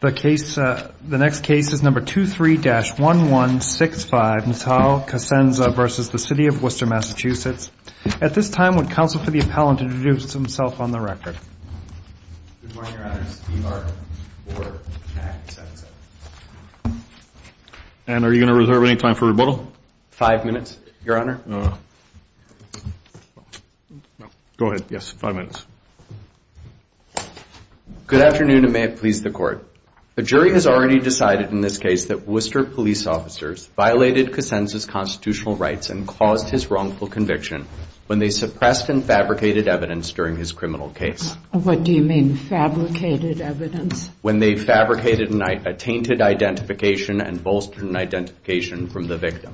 The next case is number 23-1165, Natal Cosenza v. City of Worcester, MA At this time, would counsel for the appellant introduce himself on the record? Good morning, Your Honor. Steve Arkin, for the Act of Section 7. And are you going to reserve any time for rebuttal? Five minutes, Your Honor. Go ahead. Yes, five minutes. Good afternoon, and may it please the Court. A jury has already decided in this case that Worcester police officers violated Cosenza's constitutional rights and caused his wrongful conviction when they suppressed and fabricated evidence during his criminal case. What do you mean, fabricated evidence? When they fabricated a tainted identification and bolstered an identification from the victim.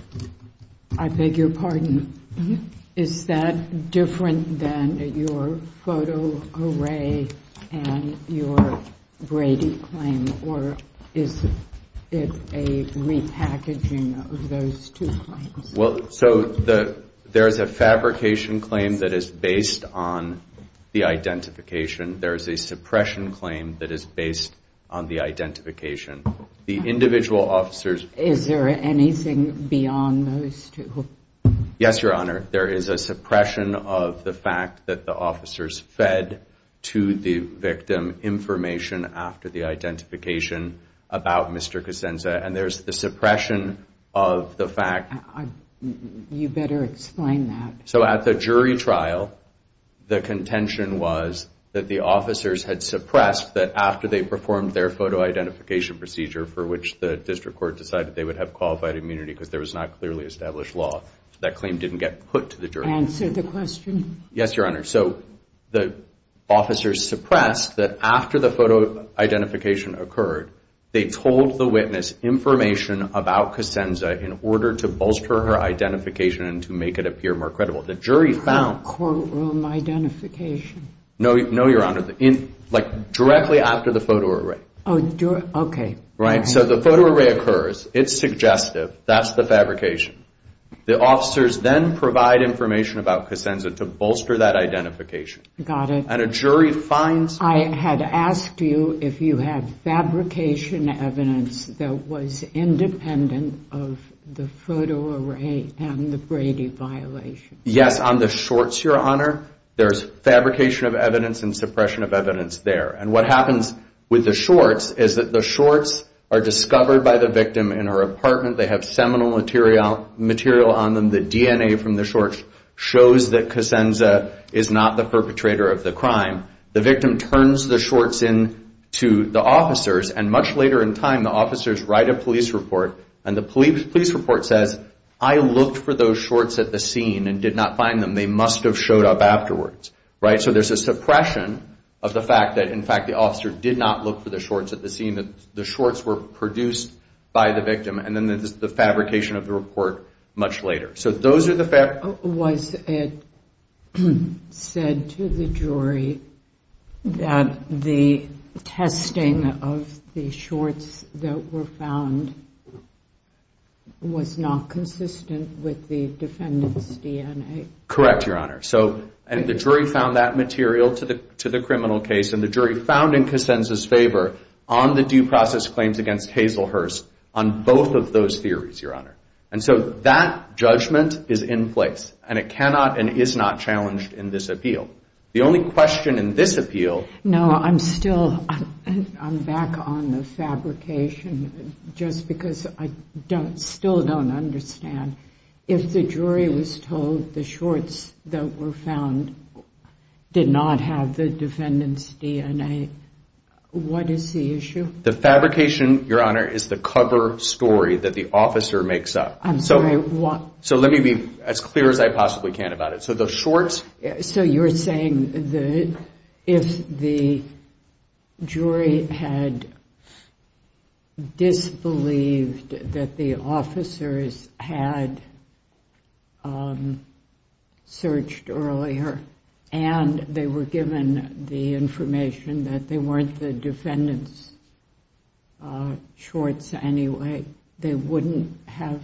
I beg your pardon. Is that different than your photo array and your Brady claim? Or is it a repackaging of those two claims? Well, so there is a fabrication claim that is based on the identification. There is a suppression claim that is based on the identification. The individual officers... Is there anything beyond those two? Yes, Your Honor. There is a suppression of the fact that the officers fed to the victim information after the identification about Mr. Cosenza. And there's the suppression of the fact... You better explain that. So at the jury trial, the contention was that the officers had suppressed that after they performed their photo identification procedure for which the district court decided they would have qualified immunity because there was not clearly established law. That claim didn't get put to the jury. Answer the question. Yes, Your Honor. So the officers suppressed that after the photo identification occurred, they told the witness information about Cosenza in order to bolster her identification and to make it appear more credible. Not courtroom identification. No, Your Honor. Like directly after the photo array. Oh, okay. Right? So the photo array occurs. It's suggestive. That's the fabrication. The officers then provide information about Cosenza to bolster that identification. Got it. And a jury finds... I had asked you if you have fabrication evidence that was independent of the photo array and the Brady violation. Yes, on the shorts, Your Honor. There's fabrication of evidence and suppression of evidence there. And what happens with the shorts is that the shorts are discovered by the victim in her apartment. They have seminal material on them. The DNA from the shorts shows that Cosenza is not the perpetrator of the crime. The victim turns the shorts in to the officers, and much later in time, the officers write a police report, and the police report says, I looked for those shorts at the scene and did not find them. They must have showed up afterwards. Right? So there's a suppression of the fact that, in fact, the officer did not look for the shorts at the scene, that the shorts were produced by the victim, and then there's the fabrication of the report much later. So those are the... Was it said to the jury that the testing of the shorts that were found was not consistent with the defendant's DNA? Correct, Your Honor. And the jury found that material to the criminal case, and the jury found in Cosenza's favor on the due process claims against Hazel Hurst on both of those theories, Your Honor. And so that judgment is in place, and it cannot and is not challenged in this appeal. The only question in this appeal... No, I'm still... I'm back on the fabrication, just because I still don't understand. If the jury was told the shorts that were found did not have the defendant's DNA, what is the issue? The fabrication, Your Honor, is the cover story that the officer makes up. I'm sorry, what? So let me be as clear as I possibly can about it. So the shorts... So you're saying that if the jury had disbelieved that the officers had searched earlier and they were given the information that they weren't the defendant's shorts anyway, they wouldn't have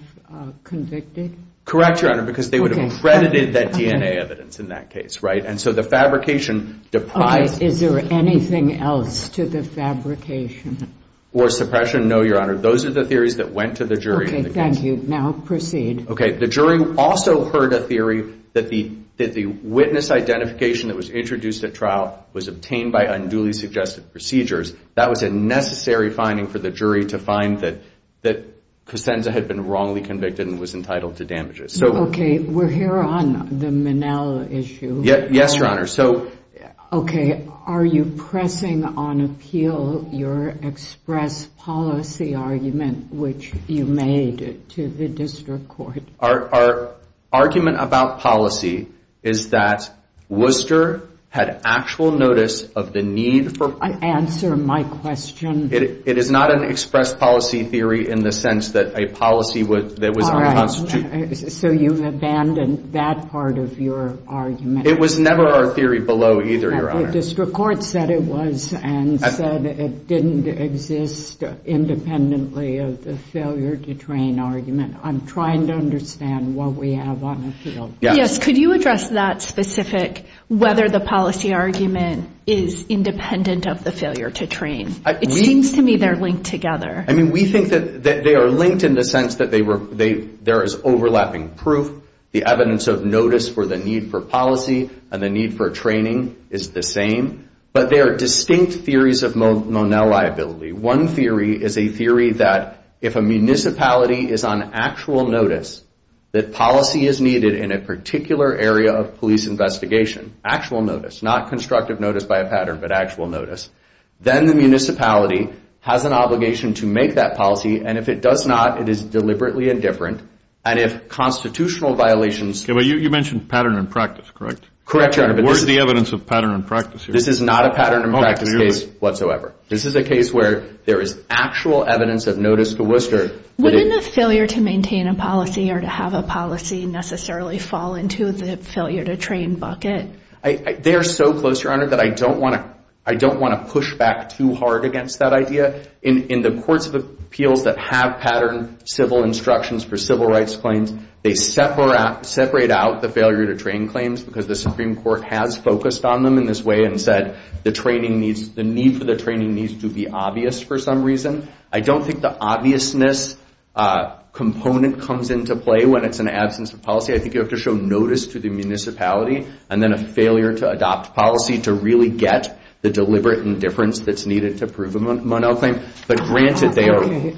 convicted? Correct, Your Honor, because they would have credited that DNA evidence in that case, right? And so the fabrication... Okay, is there anything else to the fabrication? Or suppression? No, Your Honor. Those are the theories that went to the jury. Okay, thank you. Now proceed. Okay, the jury also heard a theory that the witness identification that was introduced at trial was obtained by unduly suggested procedures. That was a necessary finding for the jury to find that Cosenza had been wrongly convicted and was entitled to damages. Okay, we're here on the Minnell issue. Yes, Your Honor. Okay, are you pressing on appeal your express policy argument which you made to the district court? Our argument about policy is that Worcester had actual notice of the need for... Answer my question. It is not an express policy theory in the sense that a policy that was unconstitutional... All right, so you've abandoned that part of your argument. It was never our theory below either, Your Honor. The district court said it was and said it didn't exist independently of the failure to train argument. I'm trying to understand what we have on appeal. Yes, could you address that specific whether the policy argument is independent of the failure to train? It seems to me they're linked together. I mean, we think that they are linked in the sense that there is overlapping proof, the evidence of notice for the need for policy and the need for training is the same, but there are distinct theories of Minnell liability. One theory is a theory that if a municipality is on actual notice, that policy is needed in a particular area of police investigation, actual notice, not constructive notice by a pattern, but actual notice, then the municipality has an obligation to make that policy, and if it does not, it is deliberately indifferent. And if constitutional violations... You mentioned pattern and practice, correct? Correct, Your Honor, but this is the evidence of pattern and practice. This is not a pattern and practice case whatsoever. This is a case where there is actual evidence of notice to Worcester. Wouldn't a failure to maintain a policy or to have a policy necessarily fall into the failure to train bucket? They are so close, Your Honor, that I don't want to push back too hard against that idea. In the courts of appeals that have patterned civil instructions for civil rights claims, they separate out the failure to train claims because the Supreme Court has focused on them in this way and said the need for the training needs to be obvious for some reason. I don't think the obviousness component comes into play when it's an absence of policy. I think you have to show notice to the municipality and then a failure to adopt policy to really get the deliberate indifference that's needed to prove a Monell claim. But granted, they are...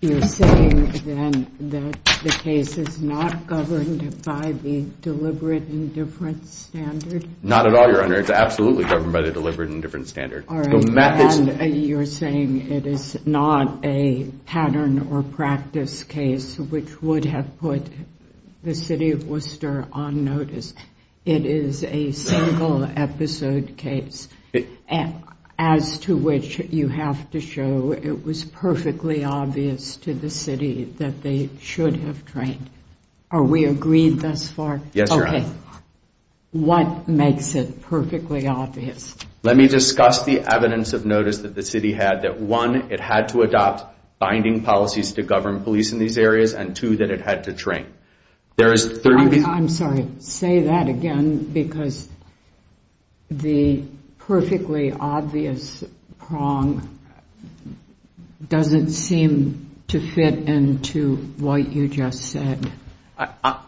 You're saying, then, that the case is not governed by the deliberate indifference standard? Not at all, Your Honor. It's absolutely governed by the deliberate indifference standard. And you're saying it is not a pattern or practice case which would have put the city of Worcester on notice. It is a single-episode case as to which you have to show it was perfectly obvious to the city that they should have trained. Are we agreed thus far? Yes, Your Honor. Okay. What makes it perfectly obvious? Let me discuss the evidence of notice that the city had. One, it had to adopt binding policies to govern police in these areas. And two, that it had to train. I'm sorry. Say that again because the perfectly obvious prong doesn't seem to fit into what you just said.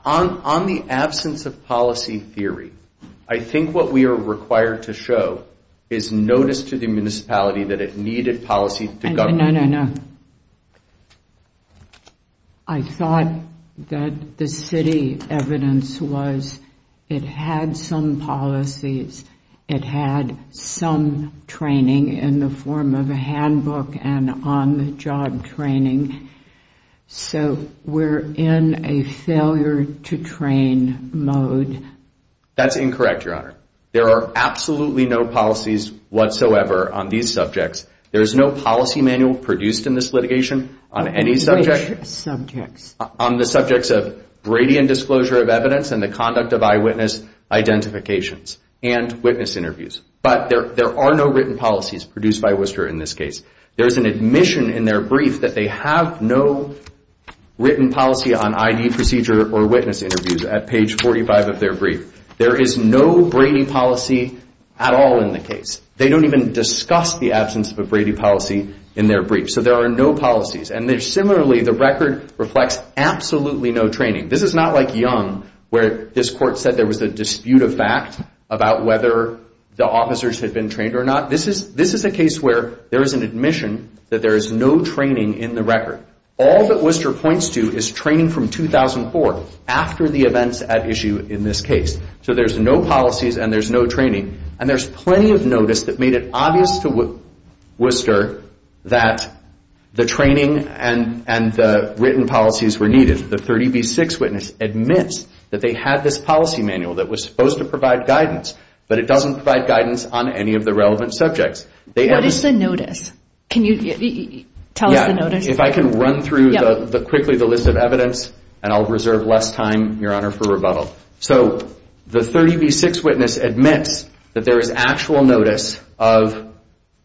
On the absence of policy theory, I think what we are required to show is notice to the municipality that it needed policy to govern. No, no, no. I thought that the city evidence was it had some policies. It had some training in the form of a handbook and on-the-job training. So we're in a failure-to-train mode. That's incorrect, Your Honor. There are absolutely no policies whatsoever on these subjects. There is no policy manual produced in this litigation on any subject. On the subjects of Brady and disclosure of evidence and the conduct of eyewitness identifications and witness interviews. But there are no written policies produced by Worcester in this case. There is an admission in their brief that they have no written policy on ID procedure or witness interviews at page 45 of their brief. There is no Brady policy at all in the case. They don't even discuss the absence of a Brady policy in their brief. So there are no policies. And similarly, the record reflects absolutely no training. This is not like Young where this court said there was a dispute of fact about whether the officers had been trained or not. This is a case where there is an admission that there is no training in the record. All that Worcester points to is training from 2004 after the events at issue in this case. So there's no policies and there's no training. And there's plenty of notice that made it obvious to Worcester that the training and the written policies were needed. The 30B6 witness admits that they had this policy manual that was supposed to provide guidance, but it doesn't provide guidance on any of the relevant subjects. What is the notice? Can you tell us the notice? If I can run through quickly the list of evidence, and I'll reserve less time, Your Honor, for rebuttal. So the 30B6 witness admits that there is actual notice of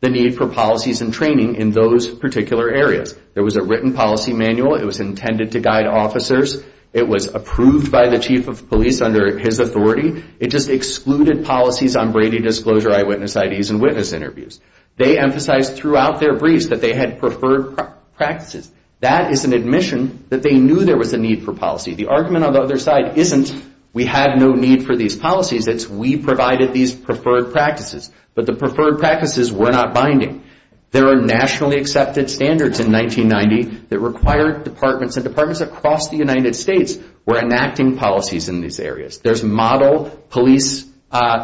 the need for policies and training in those particular areas. There was a written policy manual. It was intended to guide officers. It was approved by the chief of police under his authority. It just excluded policies on Brady disclosure, eyewitness IDs, and witness interviews. They emphasized throughout their briefs that they had preferred practices. That is an admission that they knew there was a need for policy. The argument on the other side isn't we had no need for these policies. It's we provided these preferred practices. But the preferred practices were not binding. There are nationally accepted standards in 1990 that required departments, and departments across the United States were enacting policies in these areas. There's model police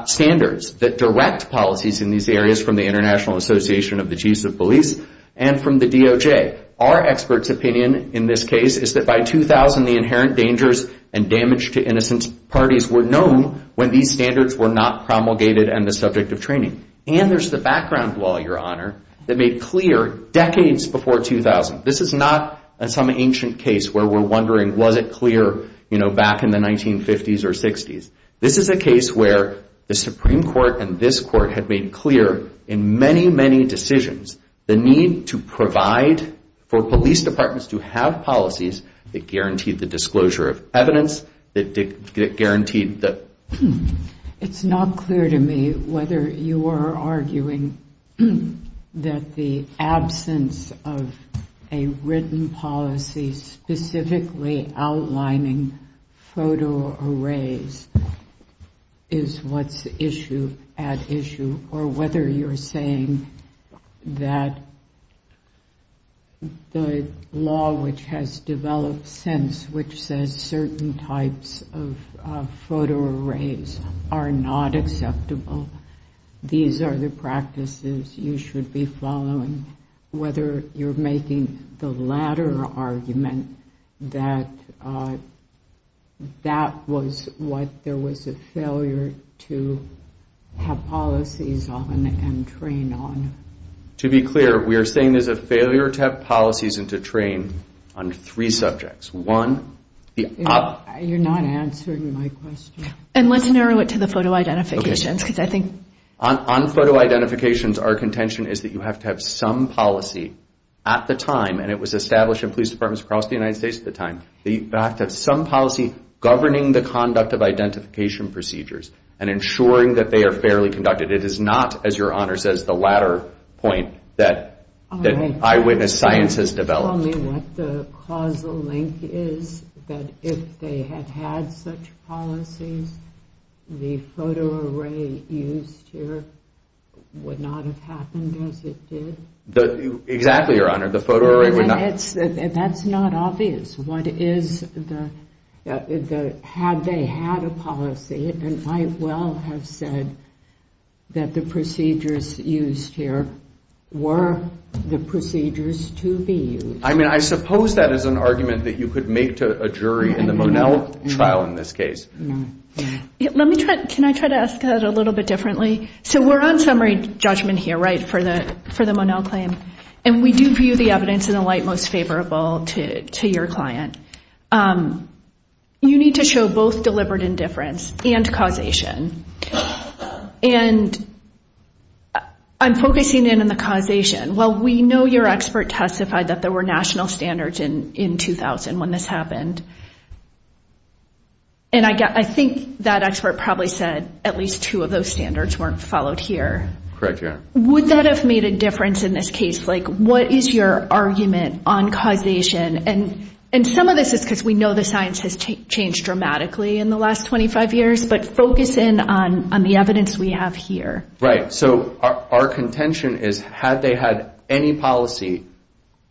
standards that direct policies in these areas from the International Association of the Chiefs of Police and from the DOJ. Our experts' opinion in this case is that by 2000, the inherent dangers and damage to innocent parties were known when these standards were not promulgated and the subject of training. And there's the background law, Your Honor, that made clear decades before 2000. This is not some ancient case where we're wondering, was it clear, you know, back in the 1950s or 60s. This is a case where the Supreme Court and this court had made clear in many, many decisions the need to provide for police departments to have policies that guaranteed the disclosure of evidence, that guaranteed the... It's not clear to me whether you are arguing that the absence of a written policy specifically outlining photo arrays is what's at issue, or whether you're saying that the law, which has developed since, which says certain types of photo arrays are not acceptable, these are the practices you should be following, whether you're making the latter argument that that was what there was a failure to have policies on and train on. To be clear, we are saying there's a failure to have policies and to train on three subjects. One, the... You're not answering my question. And let's narrow it to the photo identifications, because I think... On photo identifications, our contention is that you have to have some policy at the time, and it was established in police departments across the United States at the time, that you have to have some policy governing the conduct of identification procedures and ensuring that they are fairly conducted. It is not, as Your Honor says, the latter point that eyewitness science has developed. Can you tell me what the causal link is that if they had had such policies, the photo array used here would not have happened as it did? Exactly, Your Honor. The photo array would not... That's not obvious. What is the... Had they had a policy, and I well have said that the procedures used here were the procedures to be used. I mean, I suppose that is an argument that you could make to a jury in the Monell trial in this case. Let me try... Can I try to ask that a little bit differently? So we're on summary judgment here, right, for the Monell claim, and we do view the evidence in the light most favorable to your client. You need to show both deliberate indifference and causation, and I'm focusing in on the causation. While we know your expert testified that there were national standards in 2000 when this happened, and I think that expert probably said at least two of those standards weren't followed here. Correct, Your Honor. Would that have made a difference in this case? Like, what is your argument on causation? And some of this is because we know the science has changed dramatically in the last 25 years, but focus in on the evidence we have here. Right. So our contention is had they had any policy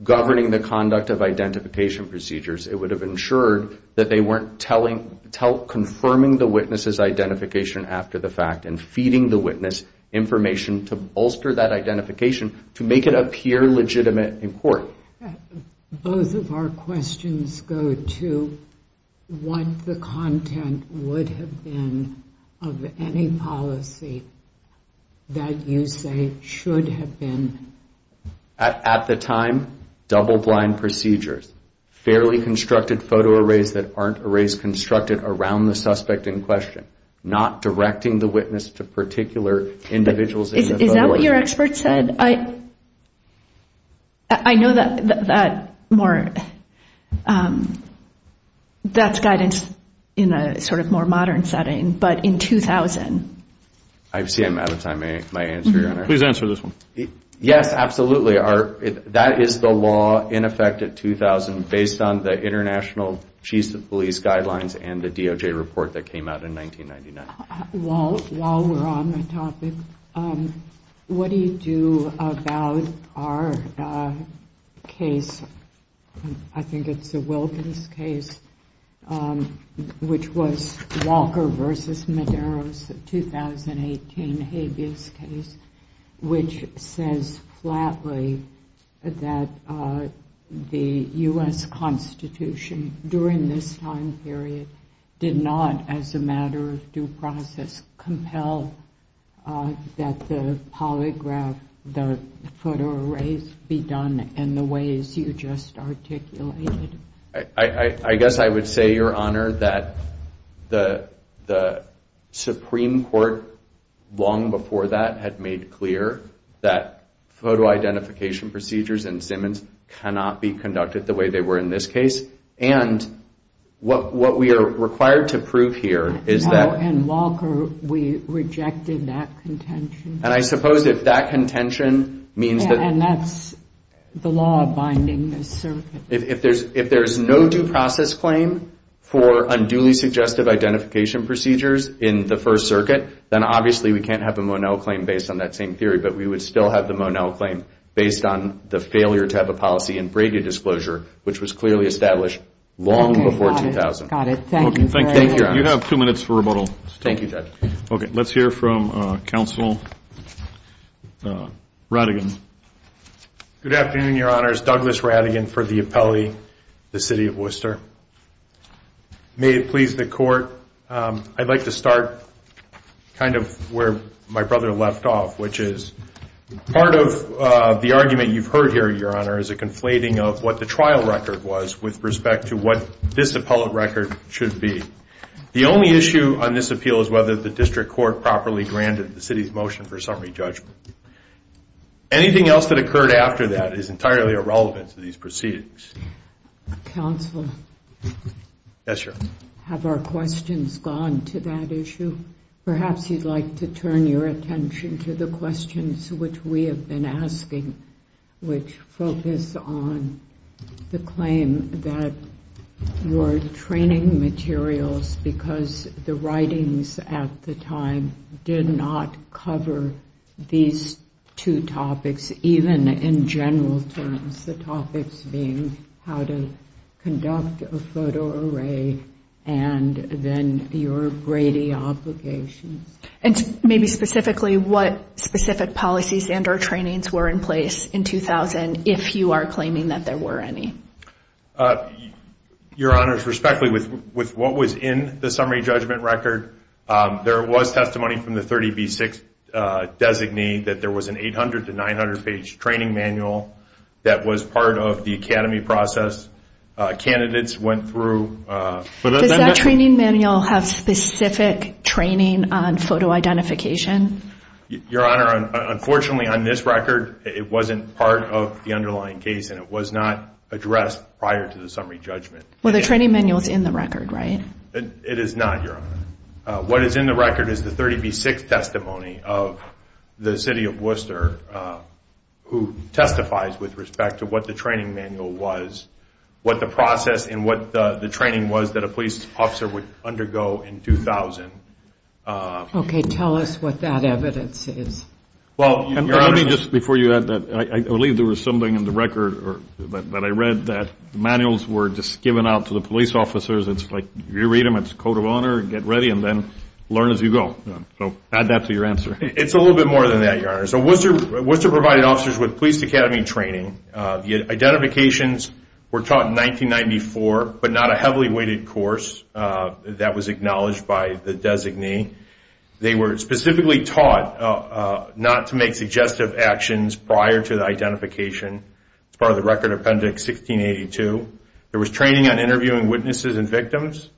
governing the conduct of identification procedures, it would have ensured that they weren't confirming the witness's identification after the fact and feeding the witness information to bolster that identification to make it appear legitimate in court. Both of our questions go to what the content would have been of any policy that you say should have been... At the time, double-blind procedures, fairly constructed photo arrays that aren't arrays constructed around the suspect in question, not directing the witness to particular individuals... Is that what your expert said? I know that's guidance in a sort of more modern setting, but in 2000... I see I'm out of time. May I answer, Your Honor? Please answer this one. Yes, absolutely. That is the law in effect at 2000 based on the International Chiefs of Police Guidelines and the DOJ report that came out in 1999. While we're on the topic, what do you do about our case? I think it's the Wilkins case, which was Walker v. Medeiros, the 2018 habeas case, which says flatly that the U.S. Constitution during this time period did not, as a matter of due process, compel that the polygraph, the photo arrays, be done in the ways you just articulated. I guess I would say, Your Honor, that the Supreme Court long before that had made clear that photo identification procedures in Simmons cannot be conducted the way they were in this case, and what we are required to prove here is that... No, in Walker, we rejected that contention. And I suppose if that contention means that... And that's the law binding this circuit. If there's no due process claim for unduly suggestive identification procedures in the First Circuit, then obviously we can't have the Monell claim based on that same theory, but we would still have the Monell claim based on the failure to have a policy in Brady disclosure, which was clearly established long before 2000. Got it. Thank you very much. Thank you, Your Honor. You have two minutes for rebuttal. Thank you, Judge. Okay, let's hear from Counsel Rattigan. Good afternoon, Your Honors. Douglas Rattigan for the appellee, the City of Worcester. May it please the Court, I'd like to start kind of where my brother left off, which is part of the argument you've heard here, Your Honor, is a conflating of what the trial record was with respect to what this appellate record should be. The only issue on this appeal is whether the District Court properly granted the City's motion for summary judgment. Anything else that occurred after that is entirely irrelevant to these proceedings. Counsel. Yes, Your Honor. Have our questions gone to that issue? Perhaps you'd like to turn your attention to the questions which we have been asking, which focus on the claim that your training materials, because the writings at the time did not cover these two topics, even in general terms, the topics being how to conduct a photo array and then your Brady obligations. And maybe specifically what specific policies and or trainings were in place in 2000, if you are claiming that there were any. Your Honor, respectfully, with what was in the summary judgment record, there was testimony from the 30B6 designee that there was an 800- to 900-page training manual that was part of the academy process. Candidates went through... Does that training manual have specific training on photo identification? Your Honor, unfortunately, on this record, it wasn't part of the underlying case and it was not addressed prior to the summary judgment. Well, the training manual is in the record, right? It is not, Your Honor. What is in the record is the 30B6 testimony of the city of Worcester who testifies with respect to what the training manual was, what the process and what the training was that a police officer would undergo in 2000. Okay, tell us what that evidence is. Well, let me just... Before you add that, I believe there was something in the record that I read that manuals were just given out to the police officers. It's like, you read them, it's code of honor, get ready, and then learn as you go. So add that to your answer. It's a little bit more than that, Your Honor. So Worcester provided officers with police academy training. The identifications were taught in 1994, but not a heavily weighted course that was acknowledged by the designee. They were specifically taught not to make suggestive actions prior to the identification. It's part of the Record Appendix 1682. There was training on interviewing witnesses and victims,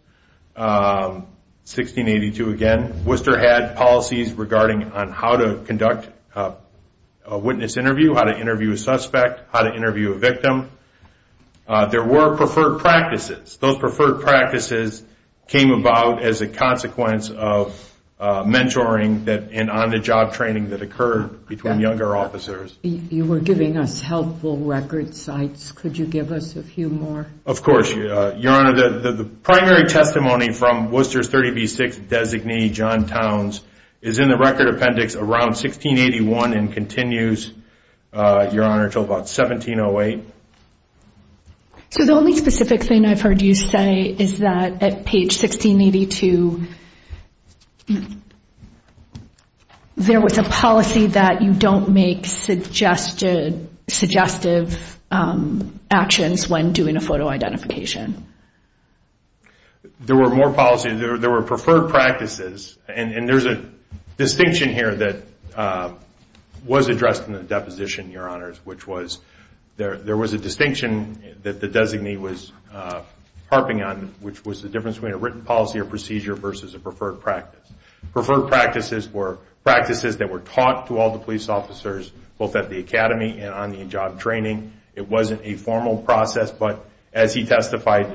1682 again. Worcester had policies regarding on how to conduct a witness interview, how to interview a suspect, how to interview a victim. There were preferred practices. Those preferred practices came about as a consequence of mentoring and on-the-job training that occurred between younger officers. You were giving us helpful record sites. Could you give us a few more? Of course. Your Honor, the primary testimony from Worcester's 30B6 designee, John Towns, is in the Record Appendix around 1681 and continues, Your Honor, until about 1708. So the only specific thing I've heard you say is that at page 1682, there was a policy that you don't make suggestive actions when doing a photo identification. There were more policies. There were preferred practices. And there's a distinction here that was addressed in the deposition, Your Honors, which was there was a distinction that the designee was harping on, which was the difference between a written policy or procedure versus a preferred practice. Preferred practices were practices that were taught to all the police officers both at the academy and on-the-job training. It wasn't a formal process, but as he testified,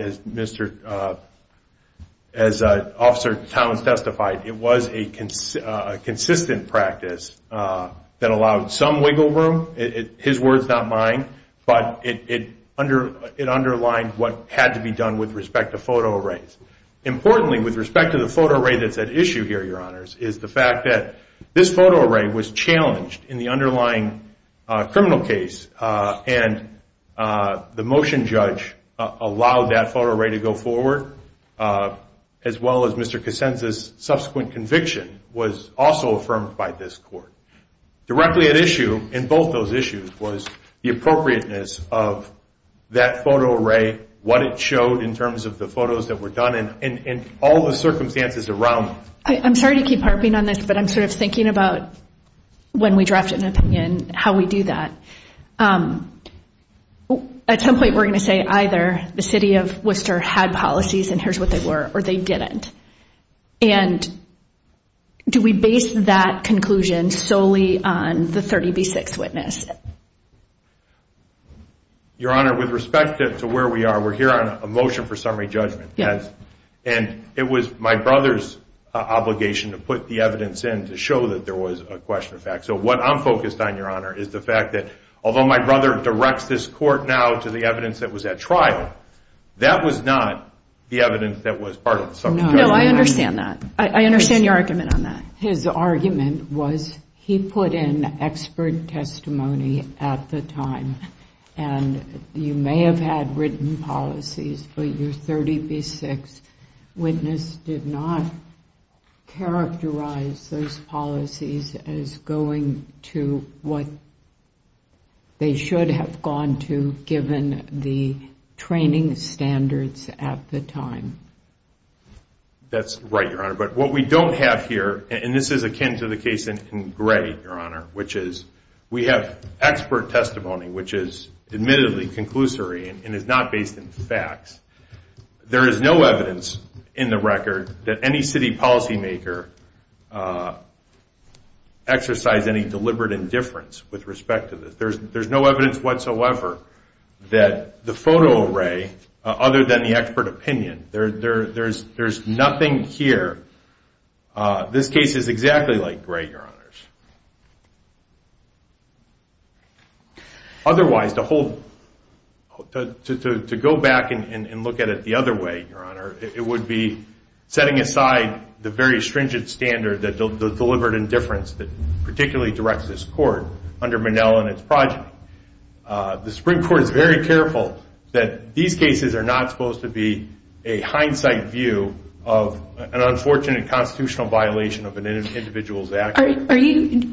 as Officer Towns testified, it was a consistent practice that allowed some wiggle room. His words, not mine, but it underlined what had to be done with respect to photo arrays. Importantly, with respect to the photo array that's at issue here, Your Honors, is the fact that this photo array was challenged in the underlying criminal case and the motion judge allowed that photo array to go forward, as well as Mr. Cassenza's subsequent conviction was also affirmed by this court. Directly at issue in both those issues was the appropriateness of that photo array, what it showed in terms of the photos that were done, and all the circumstances around it. I'm sorry to keep harping on this, but I'm sort of thinking about when we draft an opinion, how we do that. At some point, we're going to say either the city of Worcester had policies and here's what they were, or they didn't. Do we base that conclusion solely on the 30B6 witness? Your Honor, with respect to where we are, we're here on a motion for summary judgment. It was my brother's obligation to put the evidence in to show that there was a question of fact. What I'm focused on, Your Honor, is the fact that, although my brother directs this court now to the evidence that was at trial, that was not the evidence that was part of the summary judgment. No, I understand that. I understand your argument on that. His argument was he put in expert testimony at the time, and you may have had written policies, but your 30B6 witness did not characterize those policies as going to what they should have gone to given the training standards at the time. That's right, Your Honor. But what we don't have here, and this is akin to the case in Gray, Your Honor, which is we have expert testimony which is admittedly conclusory and is not based on facts. There is no evidence in the record that any city policymaker exercised any deliberate indifference with respect to this. There's no evidence whatsoever that the photo array, other than the expert opinion, there's nothing here. This case is exactly like Gray, Your Honors. Otherwise, to go back and look at it the other way, Your Honor, it would be setting aside the very stringent standard that deliberate indifference that particularly directs this court under Monell and its project. The Supreme Court is very careful that these cases are not supposed to be a hindsight view of an unfortunate constitutional violation of an individual's actions.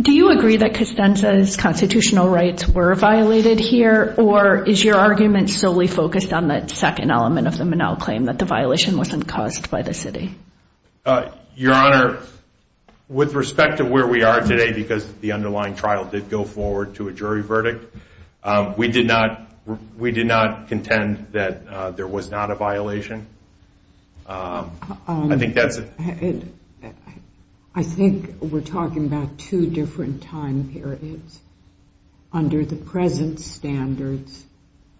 Do you agree that Costanza's constitutional rights were violated here, or is your argument solely focused on that second element of the Monell claim, that the violation wasn't caused by the city? Your Honor, with respect to where we are today, because the underlying trial did go forward to a jury verdict, we did not contend that there was not a violation. I think we're talking about two different time periods. Under the present standards,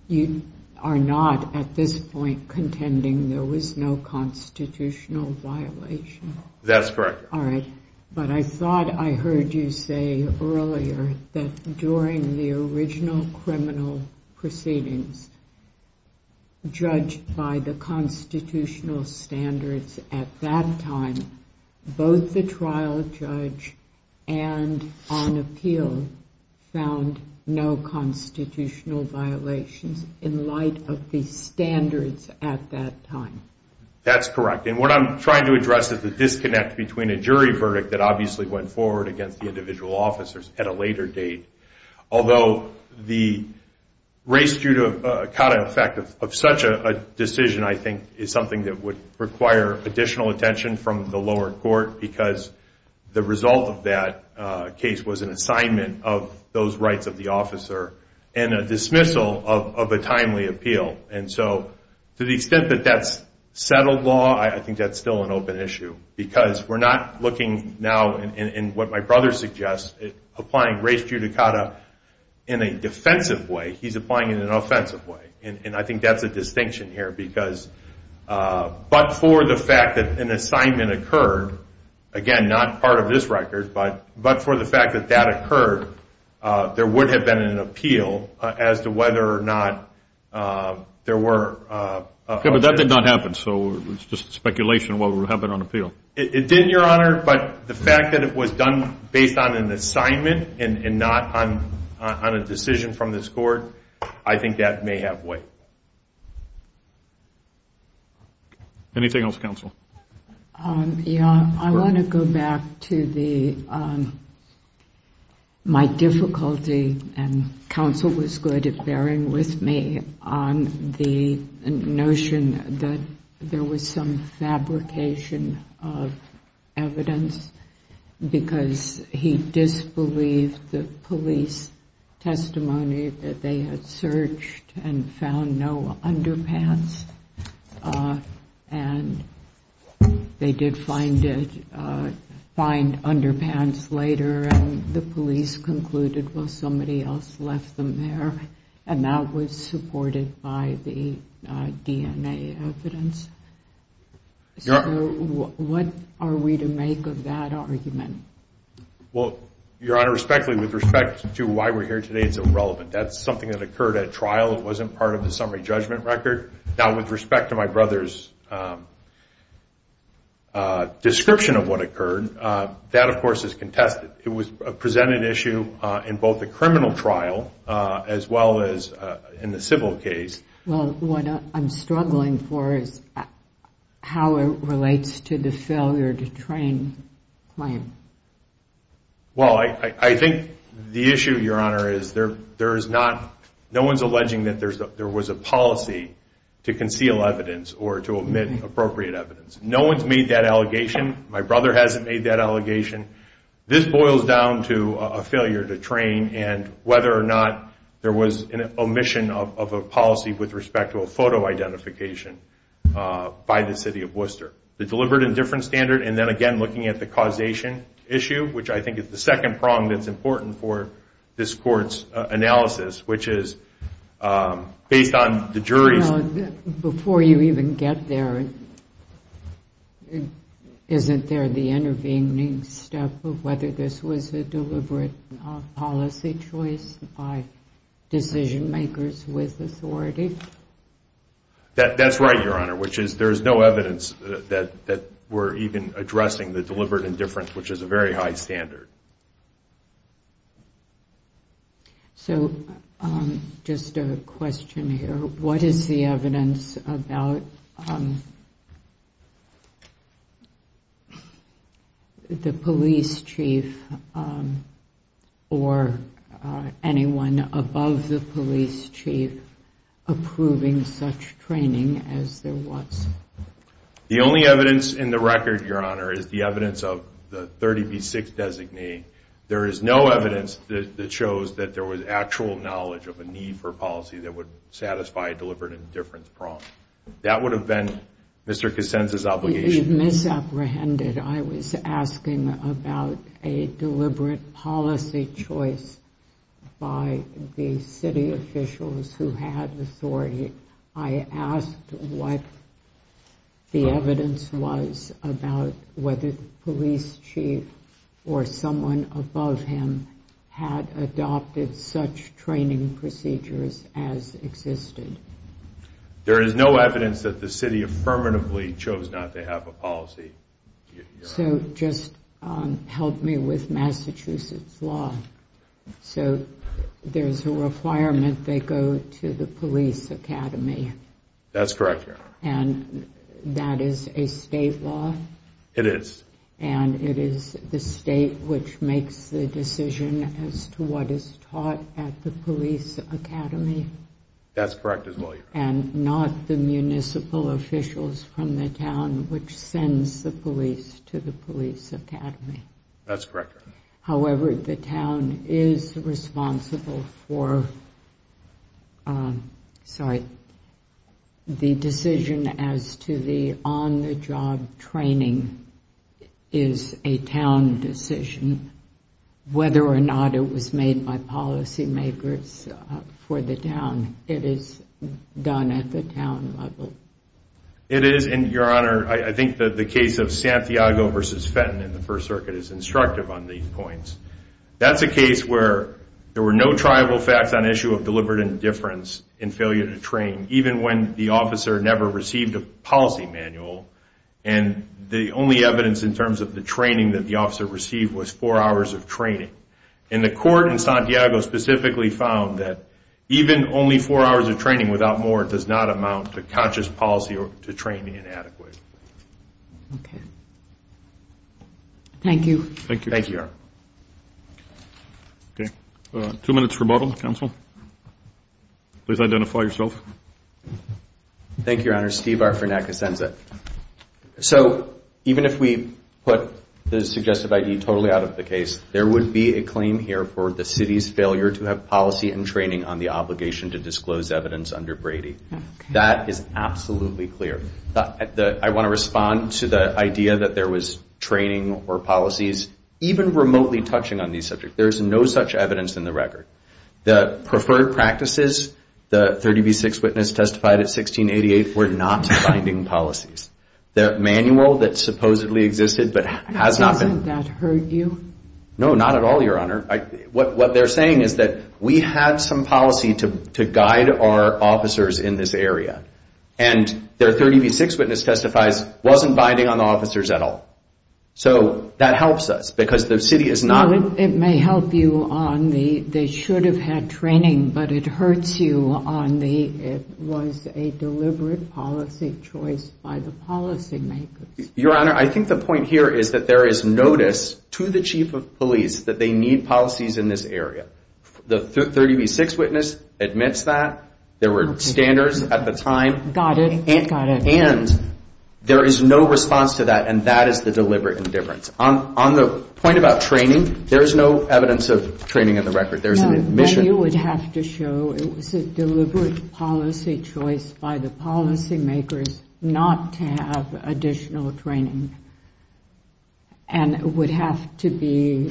you are not, at this point, contending there was no constitutional violation. That's correct. All right. But I thought I heard you say earlier that during the original criminal proceedings judged by the constitutional standards at that time, both the trial judge and on appeal found no constitutional violations in light of the standards at that time. That's correct. And what I'm trying to address is the disconnect between a jury verdict that obviously went forward against the individual officers at a later date, although the race judicata effect of such a decision, I think, is something that would require additional attention from the lower court because the result of that case was an assignment of those rights of the officer and a dismissal of a timely appeal. And so to the extent that that's settled law, I think that's still an open issue because we're not looking now in what my brother suggests, applying race judicata in a defensive way. He's applying it in an offensive way. And I think that's a distinction here because but for the fact that an assignment occurred, again, not part of this record, but for the fact that that occurred, there would have been an appeal as to whether or not there were... Yeah, but that did not happen, so it's just speculation of what would happen on appeal. It didn't, Your Honor, but the fact that it was done based on an assignment and not on a decision from this court, I think that may have weight. Anything else, counsel? Yeah, I want to go back to my difficulty, and counsel was good at bearing with me, on the notion that there was some fabrication of evidence because he disbelieved the police testimony that they had searched and found no underpants. And they did find underpants later, and the police concluded, well, somebody else left them there, and that was supported by the DNA evidence. So what are we to make of that argument? Well, Your Honor, respectfully, with respect to why we're here today, it's irrelevant. That's something that occurred at trial. It wasn't part of the summary judgment record. Now, with respect to my brother's description of what occurred, that, of course, is contested. It was a presented issue in both the criminal trial as well as in the civil case. Well, what I'm struggling for is how it relates to the failure to train claim. Well, I think the issue, Your Honor, is no one's alleging that there was a policy to conceal evidence or to omit appropriate evidence. No one's made that allegation. My brother hasn't made that allegation. This boils down to a failure to train, and whether or not there was an omission of a policy with respect to a photo identification by the city of Worcester. The deliberate and different standard, and then again looking at the causation issue, which I think is the second prong that's important for this Court's analysis, which is based on the jury's... No, before you even get there, isn't there the intervening step of whether this was a deliberate policy choice by decision-makers with authority? That's right, Your Honor, which is there's no evidence that we're even addressing the deliberate and different, which is a very high standard. So just a question here. What is the evidence about the police chief or anyone above the police chief approving such training as there was? The only evidence in the record, Your Honor, is the evidence of the 30B6 designee. There is no evidence that shows that there was actual knowledge of a need for policy that would satisfy a deliberate and different prong. That would have been Mr. Cassenza's obligation. You've misapprehended. I was asking about a deliberate policy choice by the city officials who had authority. I asked what the evidence was about whether the police chief or someone above him had adopted such training procedures as existed. There is no evidence that the city affirmatively chose not to have a policy. So just help me with Massachusetts law. So there's a requirement they go to the police academy. That's correct, Your Honor. And that is a state law? It is. And it is the state which makes the decision as to what is taught at the police academy? That's correct as well, Your Honor. And not the municipal officials from the town which sends the police to the police academy? That's correct, Your Honor. However, the town is responsible for, sorry, the decision as to the on-the-job training is a town decision, whether or not it was made by policymakers for the town. It is done at the town level. It is, and, Your Honor, I think that the case of Santiago v. Fenton in the First Circuit is instructive on these points. That's a case where there were no tribal facts on issue of deliberate indifference in failure to train, even when the officer never received a policy manual, and the only evidence in terms of the training that the officer received was four hours of training. And the court in Santiago specifically found that even only four hours of training, without more, does not amount to conscious policy or to training inadequately. Okay. Thank you. Thank you, Your Honor. Okay. Two minutes rebuttal, counsel. Please identify yourself. Thank you, Your Honor. I'm Steve Arfanac-Asenza. So even if we put the suggestive I.D. totally out of the case, there would be a claim here for the city's failure to have policy and training on the obligation to disclose evidence under Brady. That is absolutely clear. I want to respond to the idea that there was training or policies, even remotely touching on these subjects. There is no such evidence in the record. The preferred practices, the 30 v. 6 witness testified at 1688, were not binding policies. The manual that supposedly existed but has not been. Hasn't that hurt you? No, not at all, Your Honor. What they're saying is that we had some policy to guide our officers in this area. And their 30 v. 6 witness testifies wasn't binding on the officers at all. So that helps us because the city is not. It may help you on the they should have had training, but it hurts you on the it was a deliberate policy choice by the policy makers. Your Honor, I think the point here is that there is notice to the chief of police that they need policies in this area. The 30 v. 6 witness admits that. There were standards at the time. Got it, got it. And there is no response to that, and that is the deliberate indifference. On the point about training, there is no evidence of training in the record. No, then you would have to show it was a deliberate policy choice by the policy makers not to have additional training. And it would have to be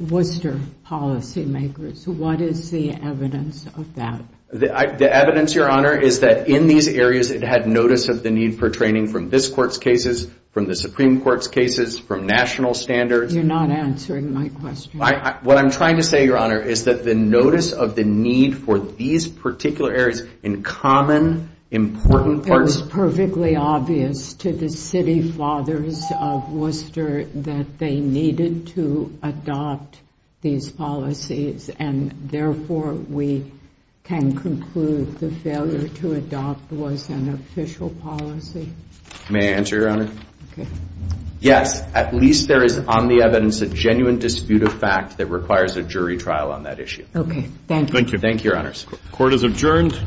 Worcester policy makers. What is the evidence of that? The evidence, Your Honor, is that in these areas it had notice of the need for training from this court's cases, from the Supreme Court's cases, from national standards. You're not answering my question. What I'm trying to say, Your Honor, is that the notice of the need for these particular areas in common important parts. It was perfectly obvious to the city fathers of Worcester that they needed to adopt these policies, and therefore we can conclude the failure to adopt was an official policy. May I answer, Your Honor? Yes. At least there is on the evidence a genuine dispute of fact that requires a jury trial on that issue. Okay. Thank you. Thank you. Thank you, Your Honors. Court is adjourned.